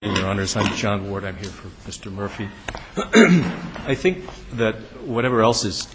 I'm John Ward. I'm here for Mr. Murphy. I think that whatever else is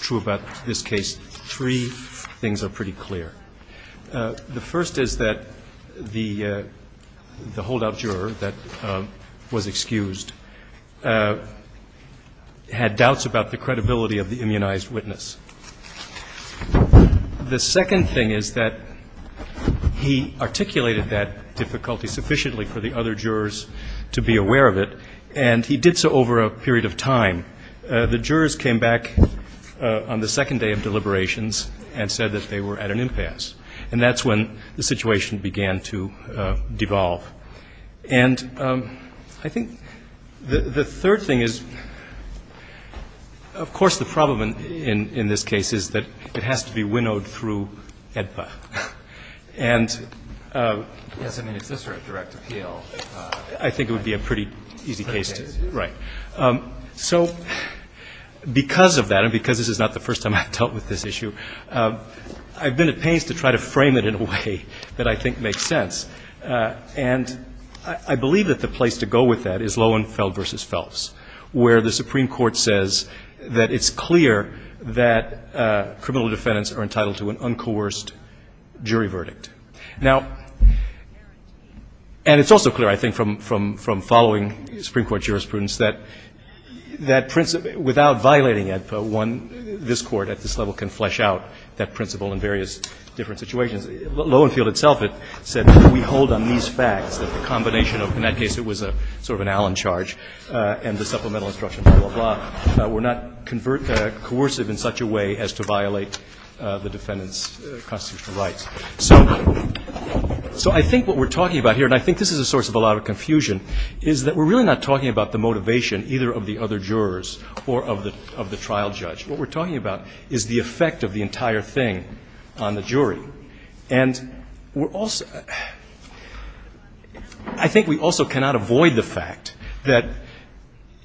true about this case, three things are pretty clear. The first is that the holdout juror that was excused had doubts about the credibility of the immunized witness. The second thing is that he articulated that difficulty sufficiently for the other jurors to be aware of it, and he did so over a period of time. The jurors came back on the second day of deliberations and said that they were at an impasse, and that's when the situation began to devolve. And I think the third thing is, of course, the problem in this case is that it has to be winnowed through AEDPA. And so because of that, and because this is not the first time I've dealt with this issue, I've been at pains to try to frame it in a way that I think makes sense. And I believe that the place to go with that is Lohenfeld v. Phelps, where the Supreme Court said that the jurors were entitled to an uncoerced jury verdict. Now, and it's also clear, I think, from following Supreme Court jurisprudence, that that principle without violating AEDPA, one, this Court at this level can flesh out that principle in various different situations. Lohenfeld itself said that we hold on these facts, that the combination of, in that case, it was a sort of an Allen charge, and the supplemental instructions, blah, blah, blah, were not coercive in such a way as to violate the defendant's constitutional rights. So I think what we're talking about here, and I think this is a source of a lot of confusion, is that we're really not talking about the motivation either of the other jurors or of the trial judge. What we're talking about is the effect of the entire thing on the jury. And we're also — I think we also cannot avoid the fact that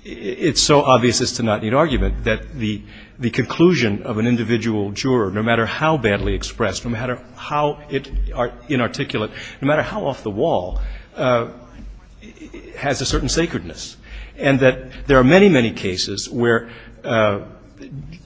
it's so obvious as to not need argument that the conclusion of an individual juror, no matter how badly expressed, no matter how inarticulate, no matter how off the wall, has a certain sacredness. And that there are many, many cases where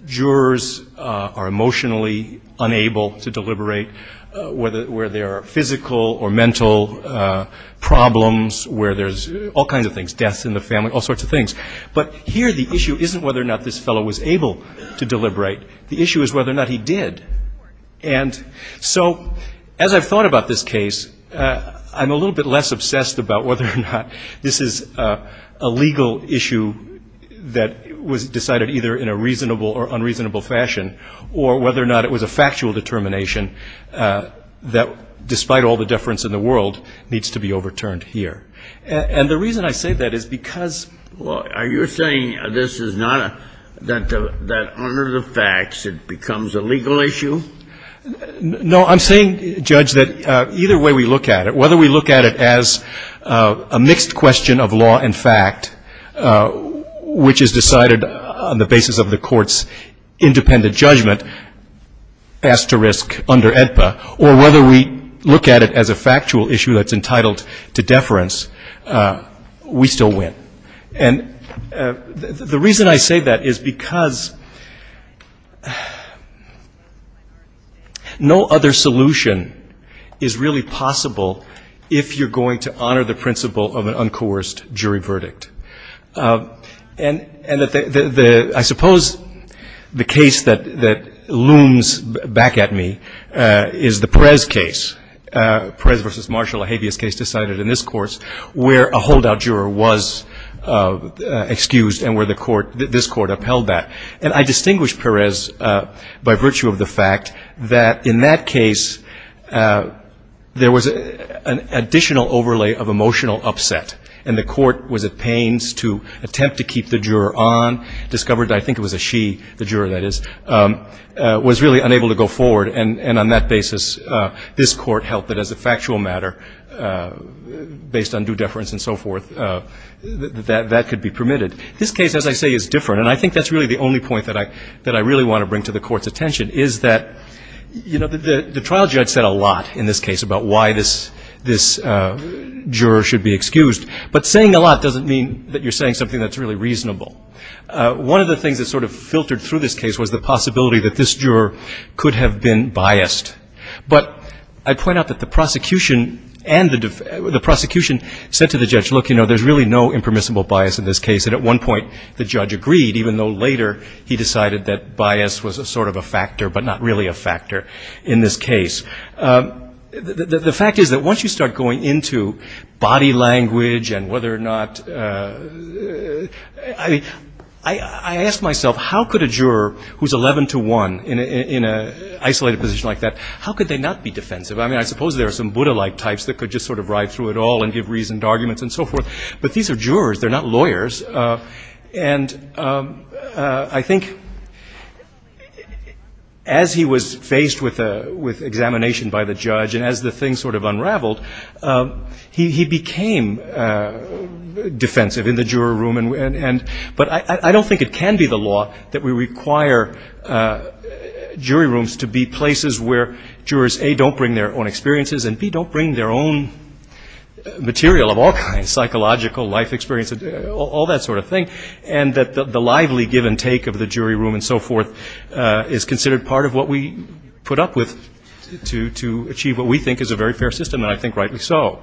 jurors are emotionally unable to deliberate, where there are physical or mental problems, where there's all kinds of things, deaths in the family, all sorts of things. But here the issue isn't whether or not this fellow was able to deliberate. The issue is whether or not he did. And so, as I've thought about this case, I'm a little bit less obsessed about whether or not this is a legal issue that was decided either in a reasonable or unreasonable fashion, or whether or not it was a factual determination that, despite all the deference in the world, needs to be overturned here. And the reason I say that is because — Kennedy. Well, are you saying this is not a — that under the facts it becomes a legal issue? Gershengorn No. I'm saying, Judge, that either way we look at it, whether we look at it as a mixed question of law and fact, which is decided on the basis of the Court's independent judgment asterisk under AEDPA, or whether we look at it as a factual issue that's entitled to deference, we still win. And the reason I say that is because no other solution is really possible if you're going to honor the principle of an uncoerced jury verdict. And I suppose the case that looms back at me is the Perez case, Perez v. Marshall, a habeas case decided in this Court, where a holdout juror was excused and where the Court — this Court upheld that. And I distinguish Perez by virtue of the fact that in that case there was an additional overlay of emotional upset. And the Court was at pains to attempt to keep the juror on, discovered — I think it was a she, the juror, that is — was really unable to go forward. And on that basis, this Court held that as a factual matter, based on due deference and so forth, that that could be permitted. This case, as I say, is different. And I think that's really the only point that I — that I really want to bring to the Court's attention is that the judge said a lot in this case about why this juror should be excused. But saying a lot doesn't mean that you're saying something that's really reasonable. One of the things that sort of filtered through this case was the possibility that this juror could have been biased. But I point out that the prosecution and the — the prosecution said to the judge, look, you know, there's really no impermissible bias in this case. And at one point the judge agreed, even though later he decided that bias was a sort of a factor, but not really a factor in this case. The fact is that once you start going into body language and whether or not — I mean, I asked myself, how could a juror who's 11-to-1 in an isolated position like that, how could they not be defensive? I mean, I suppose there are some Buddha-like types that could just sort of ride through it all and give reasoned arguments and so forth. But these are jurors. They're not lawyers. And I think as he was faced with examination by the judge and as the thing sort of unraveled, he became defensive in the juror room. And — but I don't think it can be the law that we require jury rooms to be places where jurors, A, don't bring their own experiences, and, B, don't bring their own material of all kinds — psychological, life experience, all that sort of thing. And that the lively give-and-take of the jury room and so forth is considered part of what we put up with to achieve what we think is a very fair system, and I think rightly so.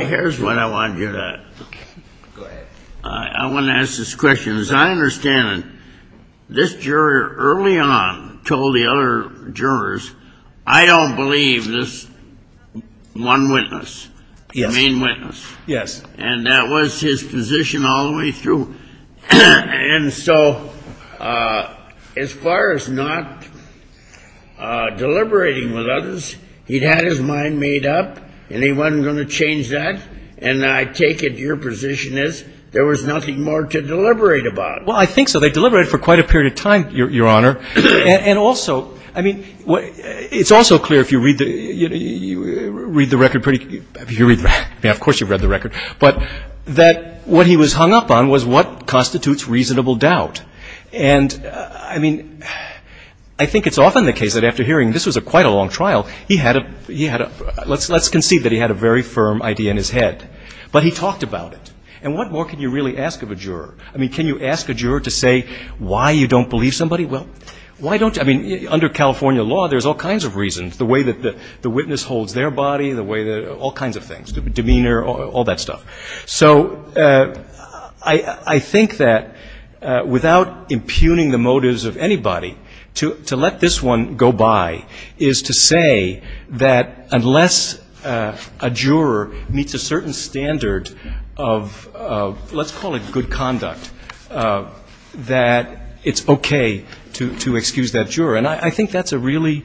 Here's when I want to do that. Go ahead. I want to ask this question. As I understand it, this juror early on told the other jurors, I don't believe this one witness, the main witness. Yes. And that was his position all the way through. And so as far as not deliberating with others, he'd had his mind made up, and he wasn't going to change that. And I take it your position is there was nothing more to deliberate about. Well, I think so. They deliberated for quite a period of time, Your Honor. And also, I mean, it's also clear if you read the record, of course you've read the record, but that what he was hung up on was what constitutes reasonable doubt. And, I mean, I think it's often the case that after hearing, this was quite a long trial, he had a — let's concede that he had a very firm idea in his head, but he talked about it. And what more can you really ask of a juror? I mean, can you ask a juror to say why you don't believe somebody? Well, why don't — I mean, under California law, there's all kinds of reasons, the way that the witness holds their body, the way that — all kinds of things, demeanor, all that stuff. So I think that without impugning the motives of anybody, to let this one go by is to say that unless a juror meets a certain standard of, let's call it good conduct, that it's okay to excuse that juror. And I think that's a really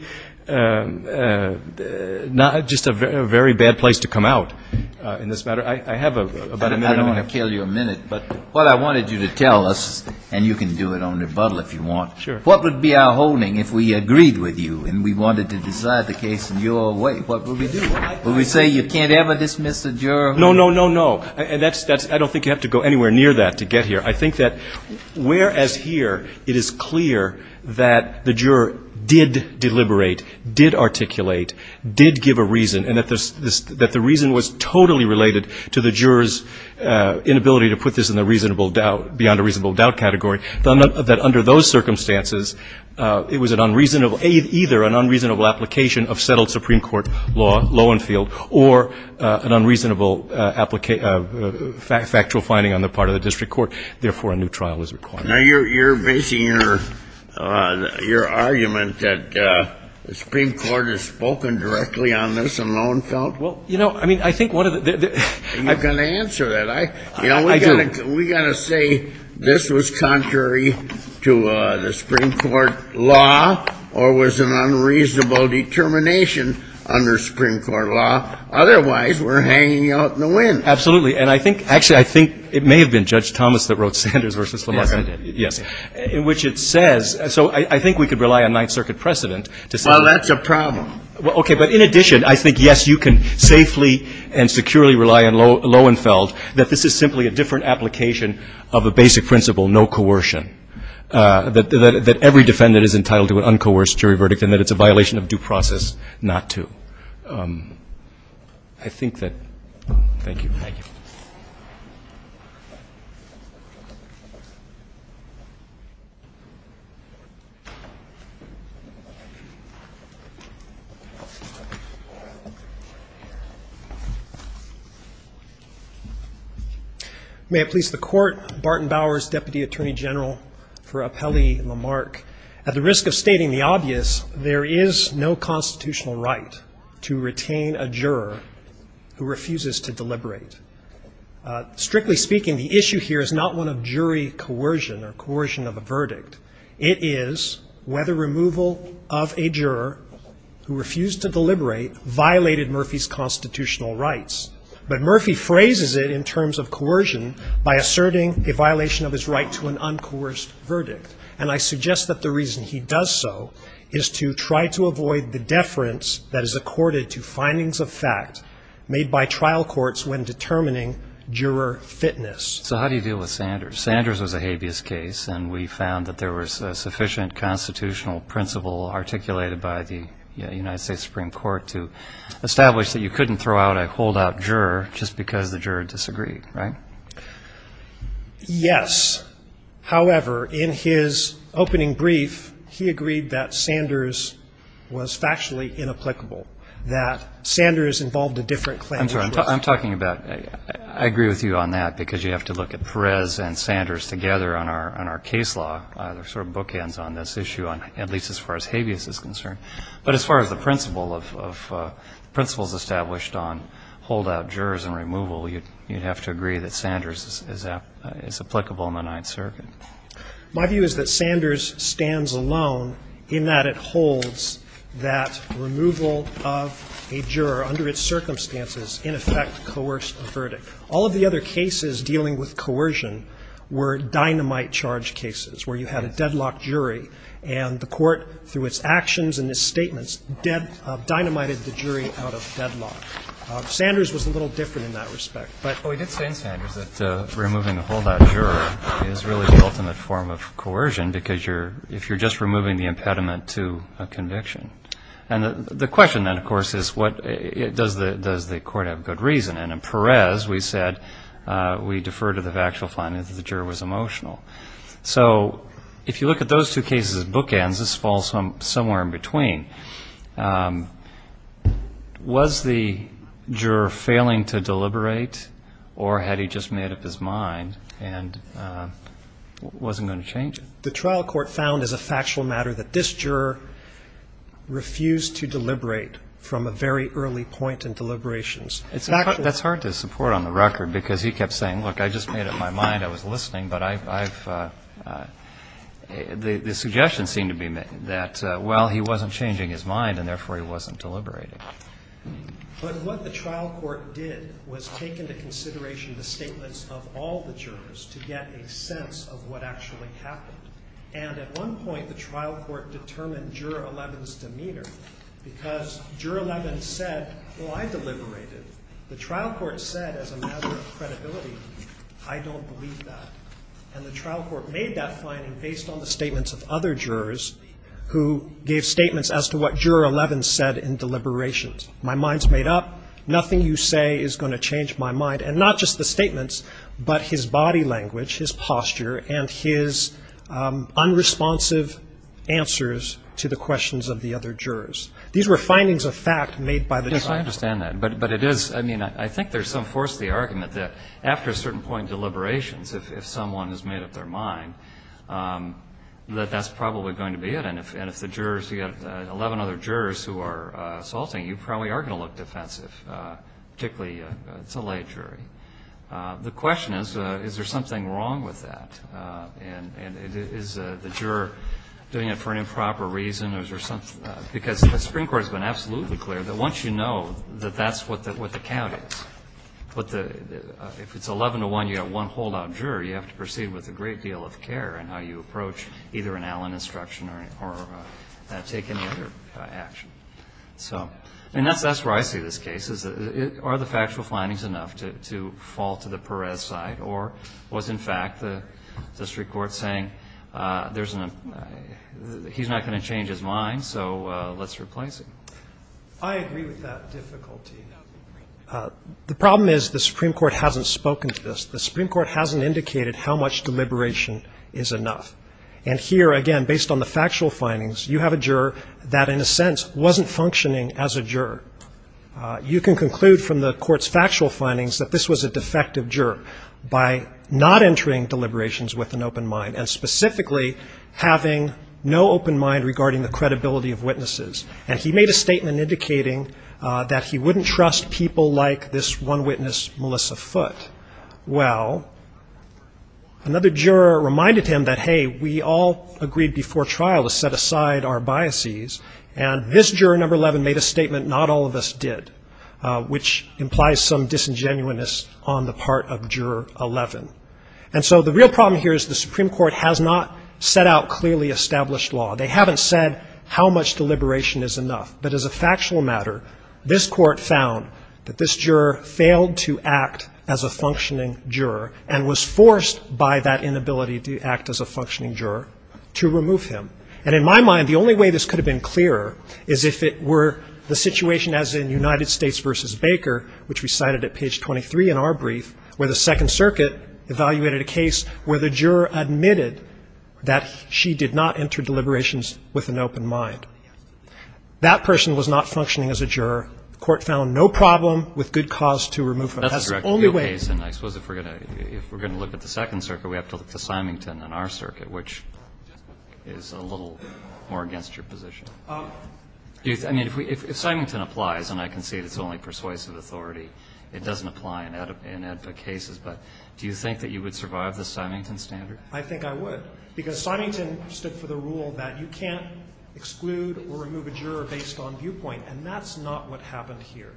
— just a very bad place to come out in this matter. I have a better — I don't want to kill you a minute, but what I wanted you to tell us, and you can do it on rebuttal if you want. Sure. What would be our holding if we agreed with you and we wanted to decide the case in your way? What would we do? Would we say you can't ever dismiss a juror? No, no, no, no. And that's — I don't think you have to go anywhere near that to get here. I think that whereas here it is clear that the juror did deliberate, did articulate, did give a reason, and that the reason was totally related to the juror's inability to put this beyond a reasonable doubt category, that under those circumstances it was an unreasonable — either an unreasonable application of settled Supreme Court law, Lowenfield, or an unreasonable factual finding on the part of the district court. Therefore, a new trial is required. Now you're basing your argument that the Supreme Court has spoken directly on this in Lowenfield? Well, you know, I mean, I think one of the — Are you going to answer that? I do. We've got to say this was contrary to the Supreme Court law or was an unreasonable determination under Supreme Court law. Otherwise, we're hanging out in the wind. Absolutely. And I think — actually, I think it may have been Judge Thomas that wrote Sanders v. Lamar. Yes. In which it says — so I think we could rely on Ninth Circuit precedent to say — Well, that's a problem. Okay. But in addition, I think, yes, you can safely and securely rely on Lowenfield, that this is simply a different application of a basic principle, no coercion. That every defendant is entitled to an uncoerced jury verdict and that it's a violation of due process not to. I think that — thank you. Thank you. May it please the Court. Barton Bowers, Deputy Attorney General for Appellee Lamarck. At the risk of stating the obvious, there is no constitutional right to retain a juror who refuses to deliberate. Strictly speaking, the issue here is not one of jury coercion or coercion of a verdict. It is whether removal of a juror who refused to deliberate violated Murphy's constitutional rights. But Murphy phrases it in terms of coercion by asserting a violation of his right to an uncoerced verdict. And I suggest that the reason he does so is to try to avoid the deference that is accorded to findings of fact made by trial courts when determining juror fitness. So how do you deal with Sanders? Sanders was a habeas case and we found that there was a sufficient constitutional principle articulated by the United States Supreme Court to establish that you couldn't throw out a pulled out juror just because the juror disagreed, right? Yes. However, in his opening brief, he agreed that Sanders was factually inapplicable, that Sanders involved a different claim. I'm talking about — I agree with you on that because you have to look at Perez and Sanders together on our case law. There are sort of bookends on this issue, at least as far as habeas is concerned. But as far as the principle is established on holdout jurors and removal, you'd have to agree that Sanders is applicable in the Ninth Circuit. My view is that Sanders stands alone in that it holds that removal of a juror under its circumstances in effect coerced the verdict. All of the other cases dealing with coercion were dynamite charge cases where you had a jury out of deadlock. Sanders was a little different in that respect. Well, he did say in Sanders that removing a holdout juror is really the ultimate form of coercion because you're — if you're just removing the impediment to a conviction. And the question then, of course, is what — does the court have good reason? And in Perez, we said — we defer to the factual finding that the juror was emotional. So if you look at those two cases as bookends, this falls somewhere in between. Was the juror failing to deliberate, or had he just made up his mind and wasn't going to change it? The trial court found as a factual matter that this juror refused to deliberate from a very early point in deliberations. That's hard to support on the record because he kept saying, look, I just made up my mind, I was listening, but I've — the suggestions seem to be that, well, he wasn't changing his mind, and therefore he wasn't deliberating. But what the trial court did was take into consideration the statements of all the jurors to get a sense of what actually happened. And at one point, the trial court determined Juror 11's demeanor because Juror 11 said, well, I deliberated. The trial court said, as a matter of credibility, I don't believe that. And the trial court made that finding based on the statements of other jurors who gave statements as to what Juror 11 said in deliberations. My mind's made up. Nothing you say is going to change my mind. And not just the statements, but his body language, his posture, and his unresponsive answers to the questions of the other jurors. These were findings of fact made by the trial court. I understand that. But it is — I mean, I think there's some force to the argument that after a certain point in deliberations, if someone has made up their mind, that that's probably going to be it. And if the jurors — you've got 11 other jurors who are assaulting, you probably are going to look defensive, particularly if it's a lay jury. The question is, is there something wrong with that? And is the juror doing it for an improper reason? Because the Supreme Court has been absolutely clear that once you know that that's what the count is, what the — if it's 11 to 1, you've got one holdout juror, you have to proceed with a great deal of care in how you approach either an Allen instruction or take any other action. So, I mean, that's where I see this case. Are the factual findings enough to fall to the Perez side? Or was, in fact, the district court saying there's an — he's not going to change his mind, so let's replace him? I agree with that difficulty. The problem is the Supreme Court hasn't spoken to this. The Supreme Court hasn't indicated how much deliberation is enough. And here, again, based on the factual findings, you have a juror that, in a sense, wasn't functioning as a juror. You can conclude from the court's factual findings that this was a defective juror by not entering deliberations with an open mind, and specifically having no open mind regarding the credibility of witnesses. And he made a statement indicating that he wouldn't trust people like this one witness, Melissa Foote. Well, another juror reminded him that, hey, we all agreed before trial to set aside our deliberations, and all of us did, which implies some disingenuousness on the part of juror 11. And so the real problem here is the Supreme Court has not set out clearly established law. They haven't said how much deliberation is enough. But as a factual matter, this court found that this juror failed to act as a functioning juror and was forced by that inability to act as a functioning juror to remove him. And in my mind, the only way this could have been clearer is if it were the situation as in United States v. Baker, which we cited at page 23 in our brief, where the Second Circuit evaluated a case where the juror admitted that she did not enter deliberations with an open mind. That person was not functioning as a juror. The court found no problem with good cause to remove him. That's the only way. And I suppose if we're going to look at the Second Circuit, we have to look to Symington and our circuit, which is a little more against your position. I mean, if Symington applies, and I concede it's only persuasive authority, it doesn't apply in AEDPA cases. But do you think that you would survive the Symington standard? I think I would, because Symington stood for the rule that you can't exclude or remove a juror based on viewpoint. And that's not what happened here,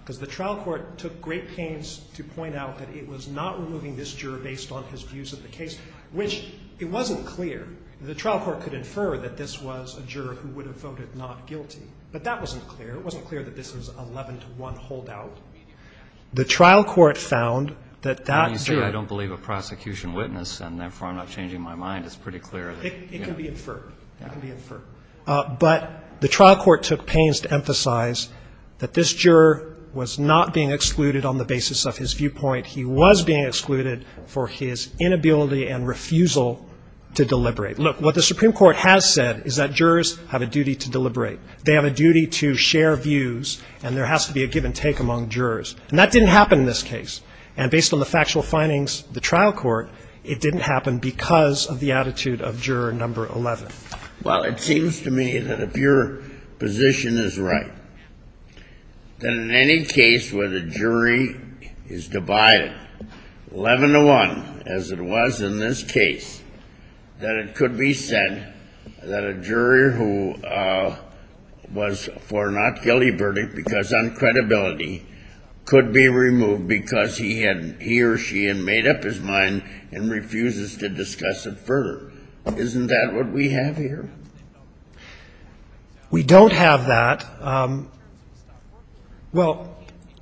because the trial court took great pains to point out that it was not removing this juror based on his views of the case, which it wasn't clear. The trial court could infer that this was a juror who would have voted not guilty, but that wasn't clear. It wasn't clear that this was an 11-to-1 holdout. The trial court found that that juror --. And you say I don't believe a prosecution witness, and therefore I'm not changing my mind. It's pretty clear. It can be inferred. It can be inferred. But the trial court took pains to emphasize that this juror was not being excluded on the basis of his viewpoint. He was being excluded for his inability and refusal to deliberate. Look, what the Supreme Court has said is that jurors have a duty to deliberate. They have a duty to share views, and there has to be a give-and-take among jurors. And that didn't happen in this case. And based on the factual findings of the trial court, it didn't happen because of the attitude of juror number 11. Well, it seems to me that if your position is right, that in any case where the jury is divided 11-to-1, as it was in this case, that it could be said that a jury who was for not guilty verdict because on credibility could be removed because he or she had made up his mind and refuses to discuss it further. Isn't that what we have here? We don't have that. Well,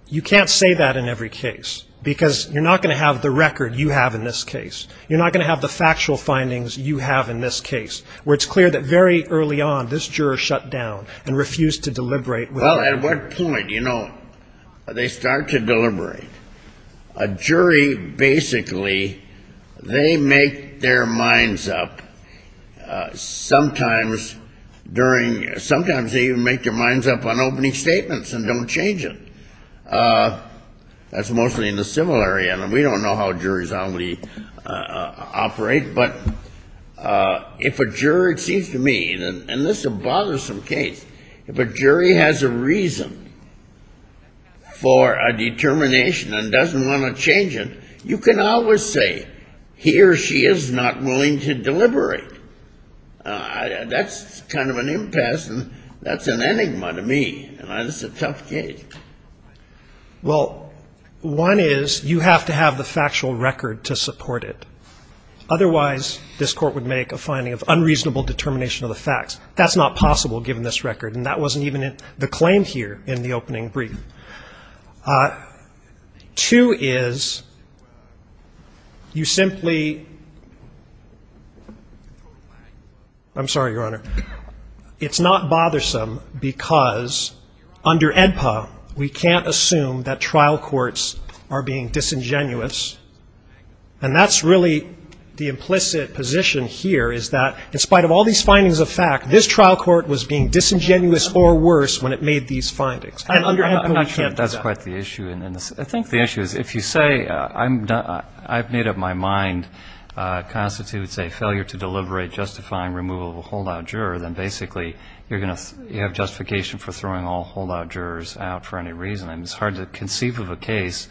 you can't say that in every case because you're not going to have the record you have in this case. You're not going to have the factual findings you have in this case where it's clear that very early on this juror shut down and refused to deliberate. You know, they start to deliberate. A jury, basically, they make their minds up. Sometimes they even make their minds up on opening statements and don't change it. That's mostly in the civil area. We don't know how juries operate. But if a jury, it seems to me, and this is a bothersome case, if a jury has a reason for a determination and doesn't want to change it, you can always say he or she is not willing to deliberate. That's kind of an impasse, and that's an enigma to me. And it's a tough case. Well, one is you have to have the factual record to support it. Otherwise, this Court would make a finding of unreasonable determination of the facts. That's not possible given this record. And that wasn't even the claim here in the opening brief. Two is you simply, I'm sorry, Your Honor, it's not bothersome because under AEDPA, we can't assume that trial courts are being disingenuous. And that's really the implicit position here is that in spite of all these findings of fact, this trial court was being disingenuous or worse when it made these findings. And under AEDPA, we can't do that. I'm not sure that's quite the issue. And I think the issue is if you say I've made up my mind constitutes a failure to deliberate justifying removal of a holdout juror, then basically you're going to have justification for throwing all holdout jurors out for any reason. And it's hard to conceive of a case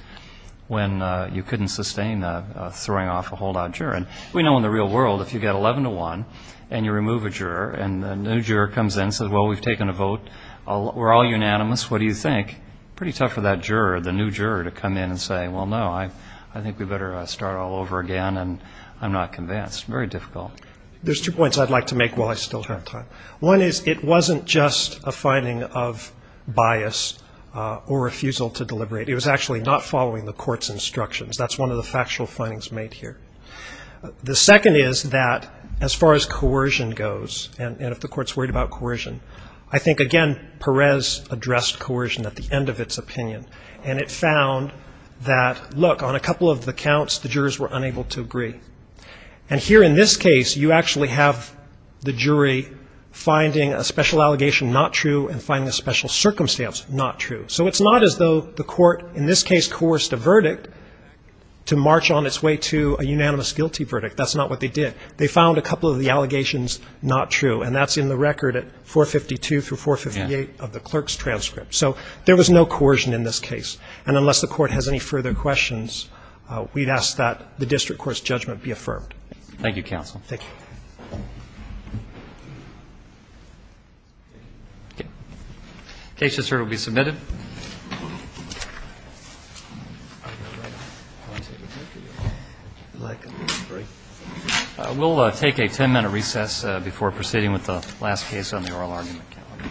when you couldn't sustain throwing off a holdout juror. And we know in the real world if you get 11 to 1 and you remove a juror and a new juror comes in and says, well, we've taken a vote, we're all unanimous, what do you think? Pretty tough for that juror, the new juror, to come in and say, well, no, I think we better start all over again and I'm not convinced. Very difficult. There's two points I'd like to make while I still have time. One is it wasn't just a finding of bias or refusal to deliberate. It was actually not following the court's instructions. That's one of the factual findings made here. The second is that as far as coercion goes and if the court's worried about coercion, I think, again, Perez addressed coercion at the end of its opinion. And it found that, look, on a couple of the counts the jurors were unable to agree. And here in this case you actually have the jury finding a special allegation not true and finding a special circumstance not true. So it's not as though the court in this case coerced a verdict to march on its way to a unanimous guilty verdict. That's not what they did. They found a couple of the allegations not true. And that's in the record at 452 through 458 of the clerk's transcript. So there was no coercion in this case. And unless the court has any further questions, we'd ask that the district court's judgment be affirmed. Roberts. Thank you, counsel. Thank you. Okay. Case just heard will be submitted. We'll take a 10-minute recess before proceeding with the last case on the oral argument calendar.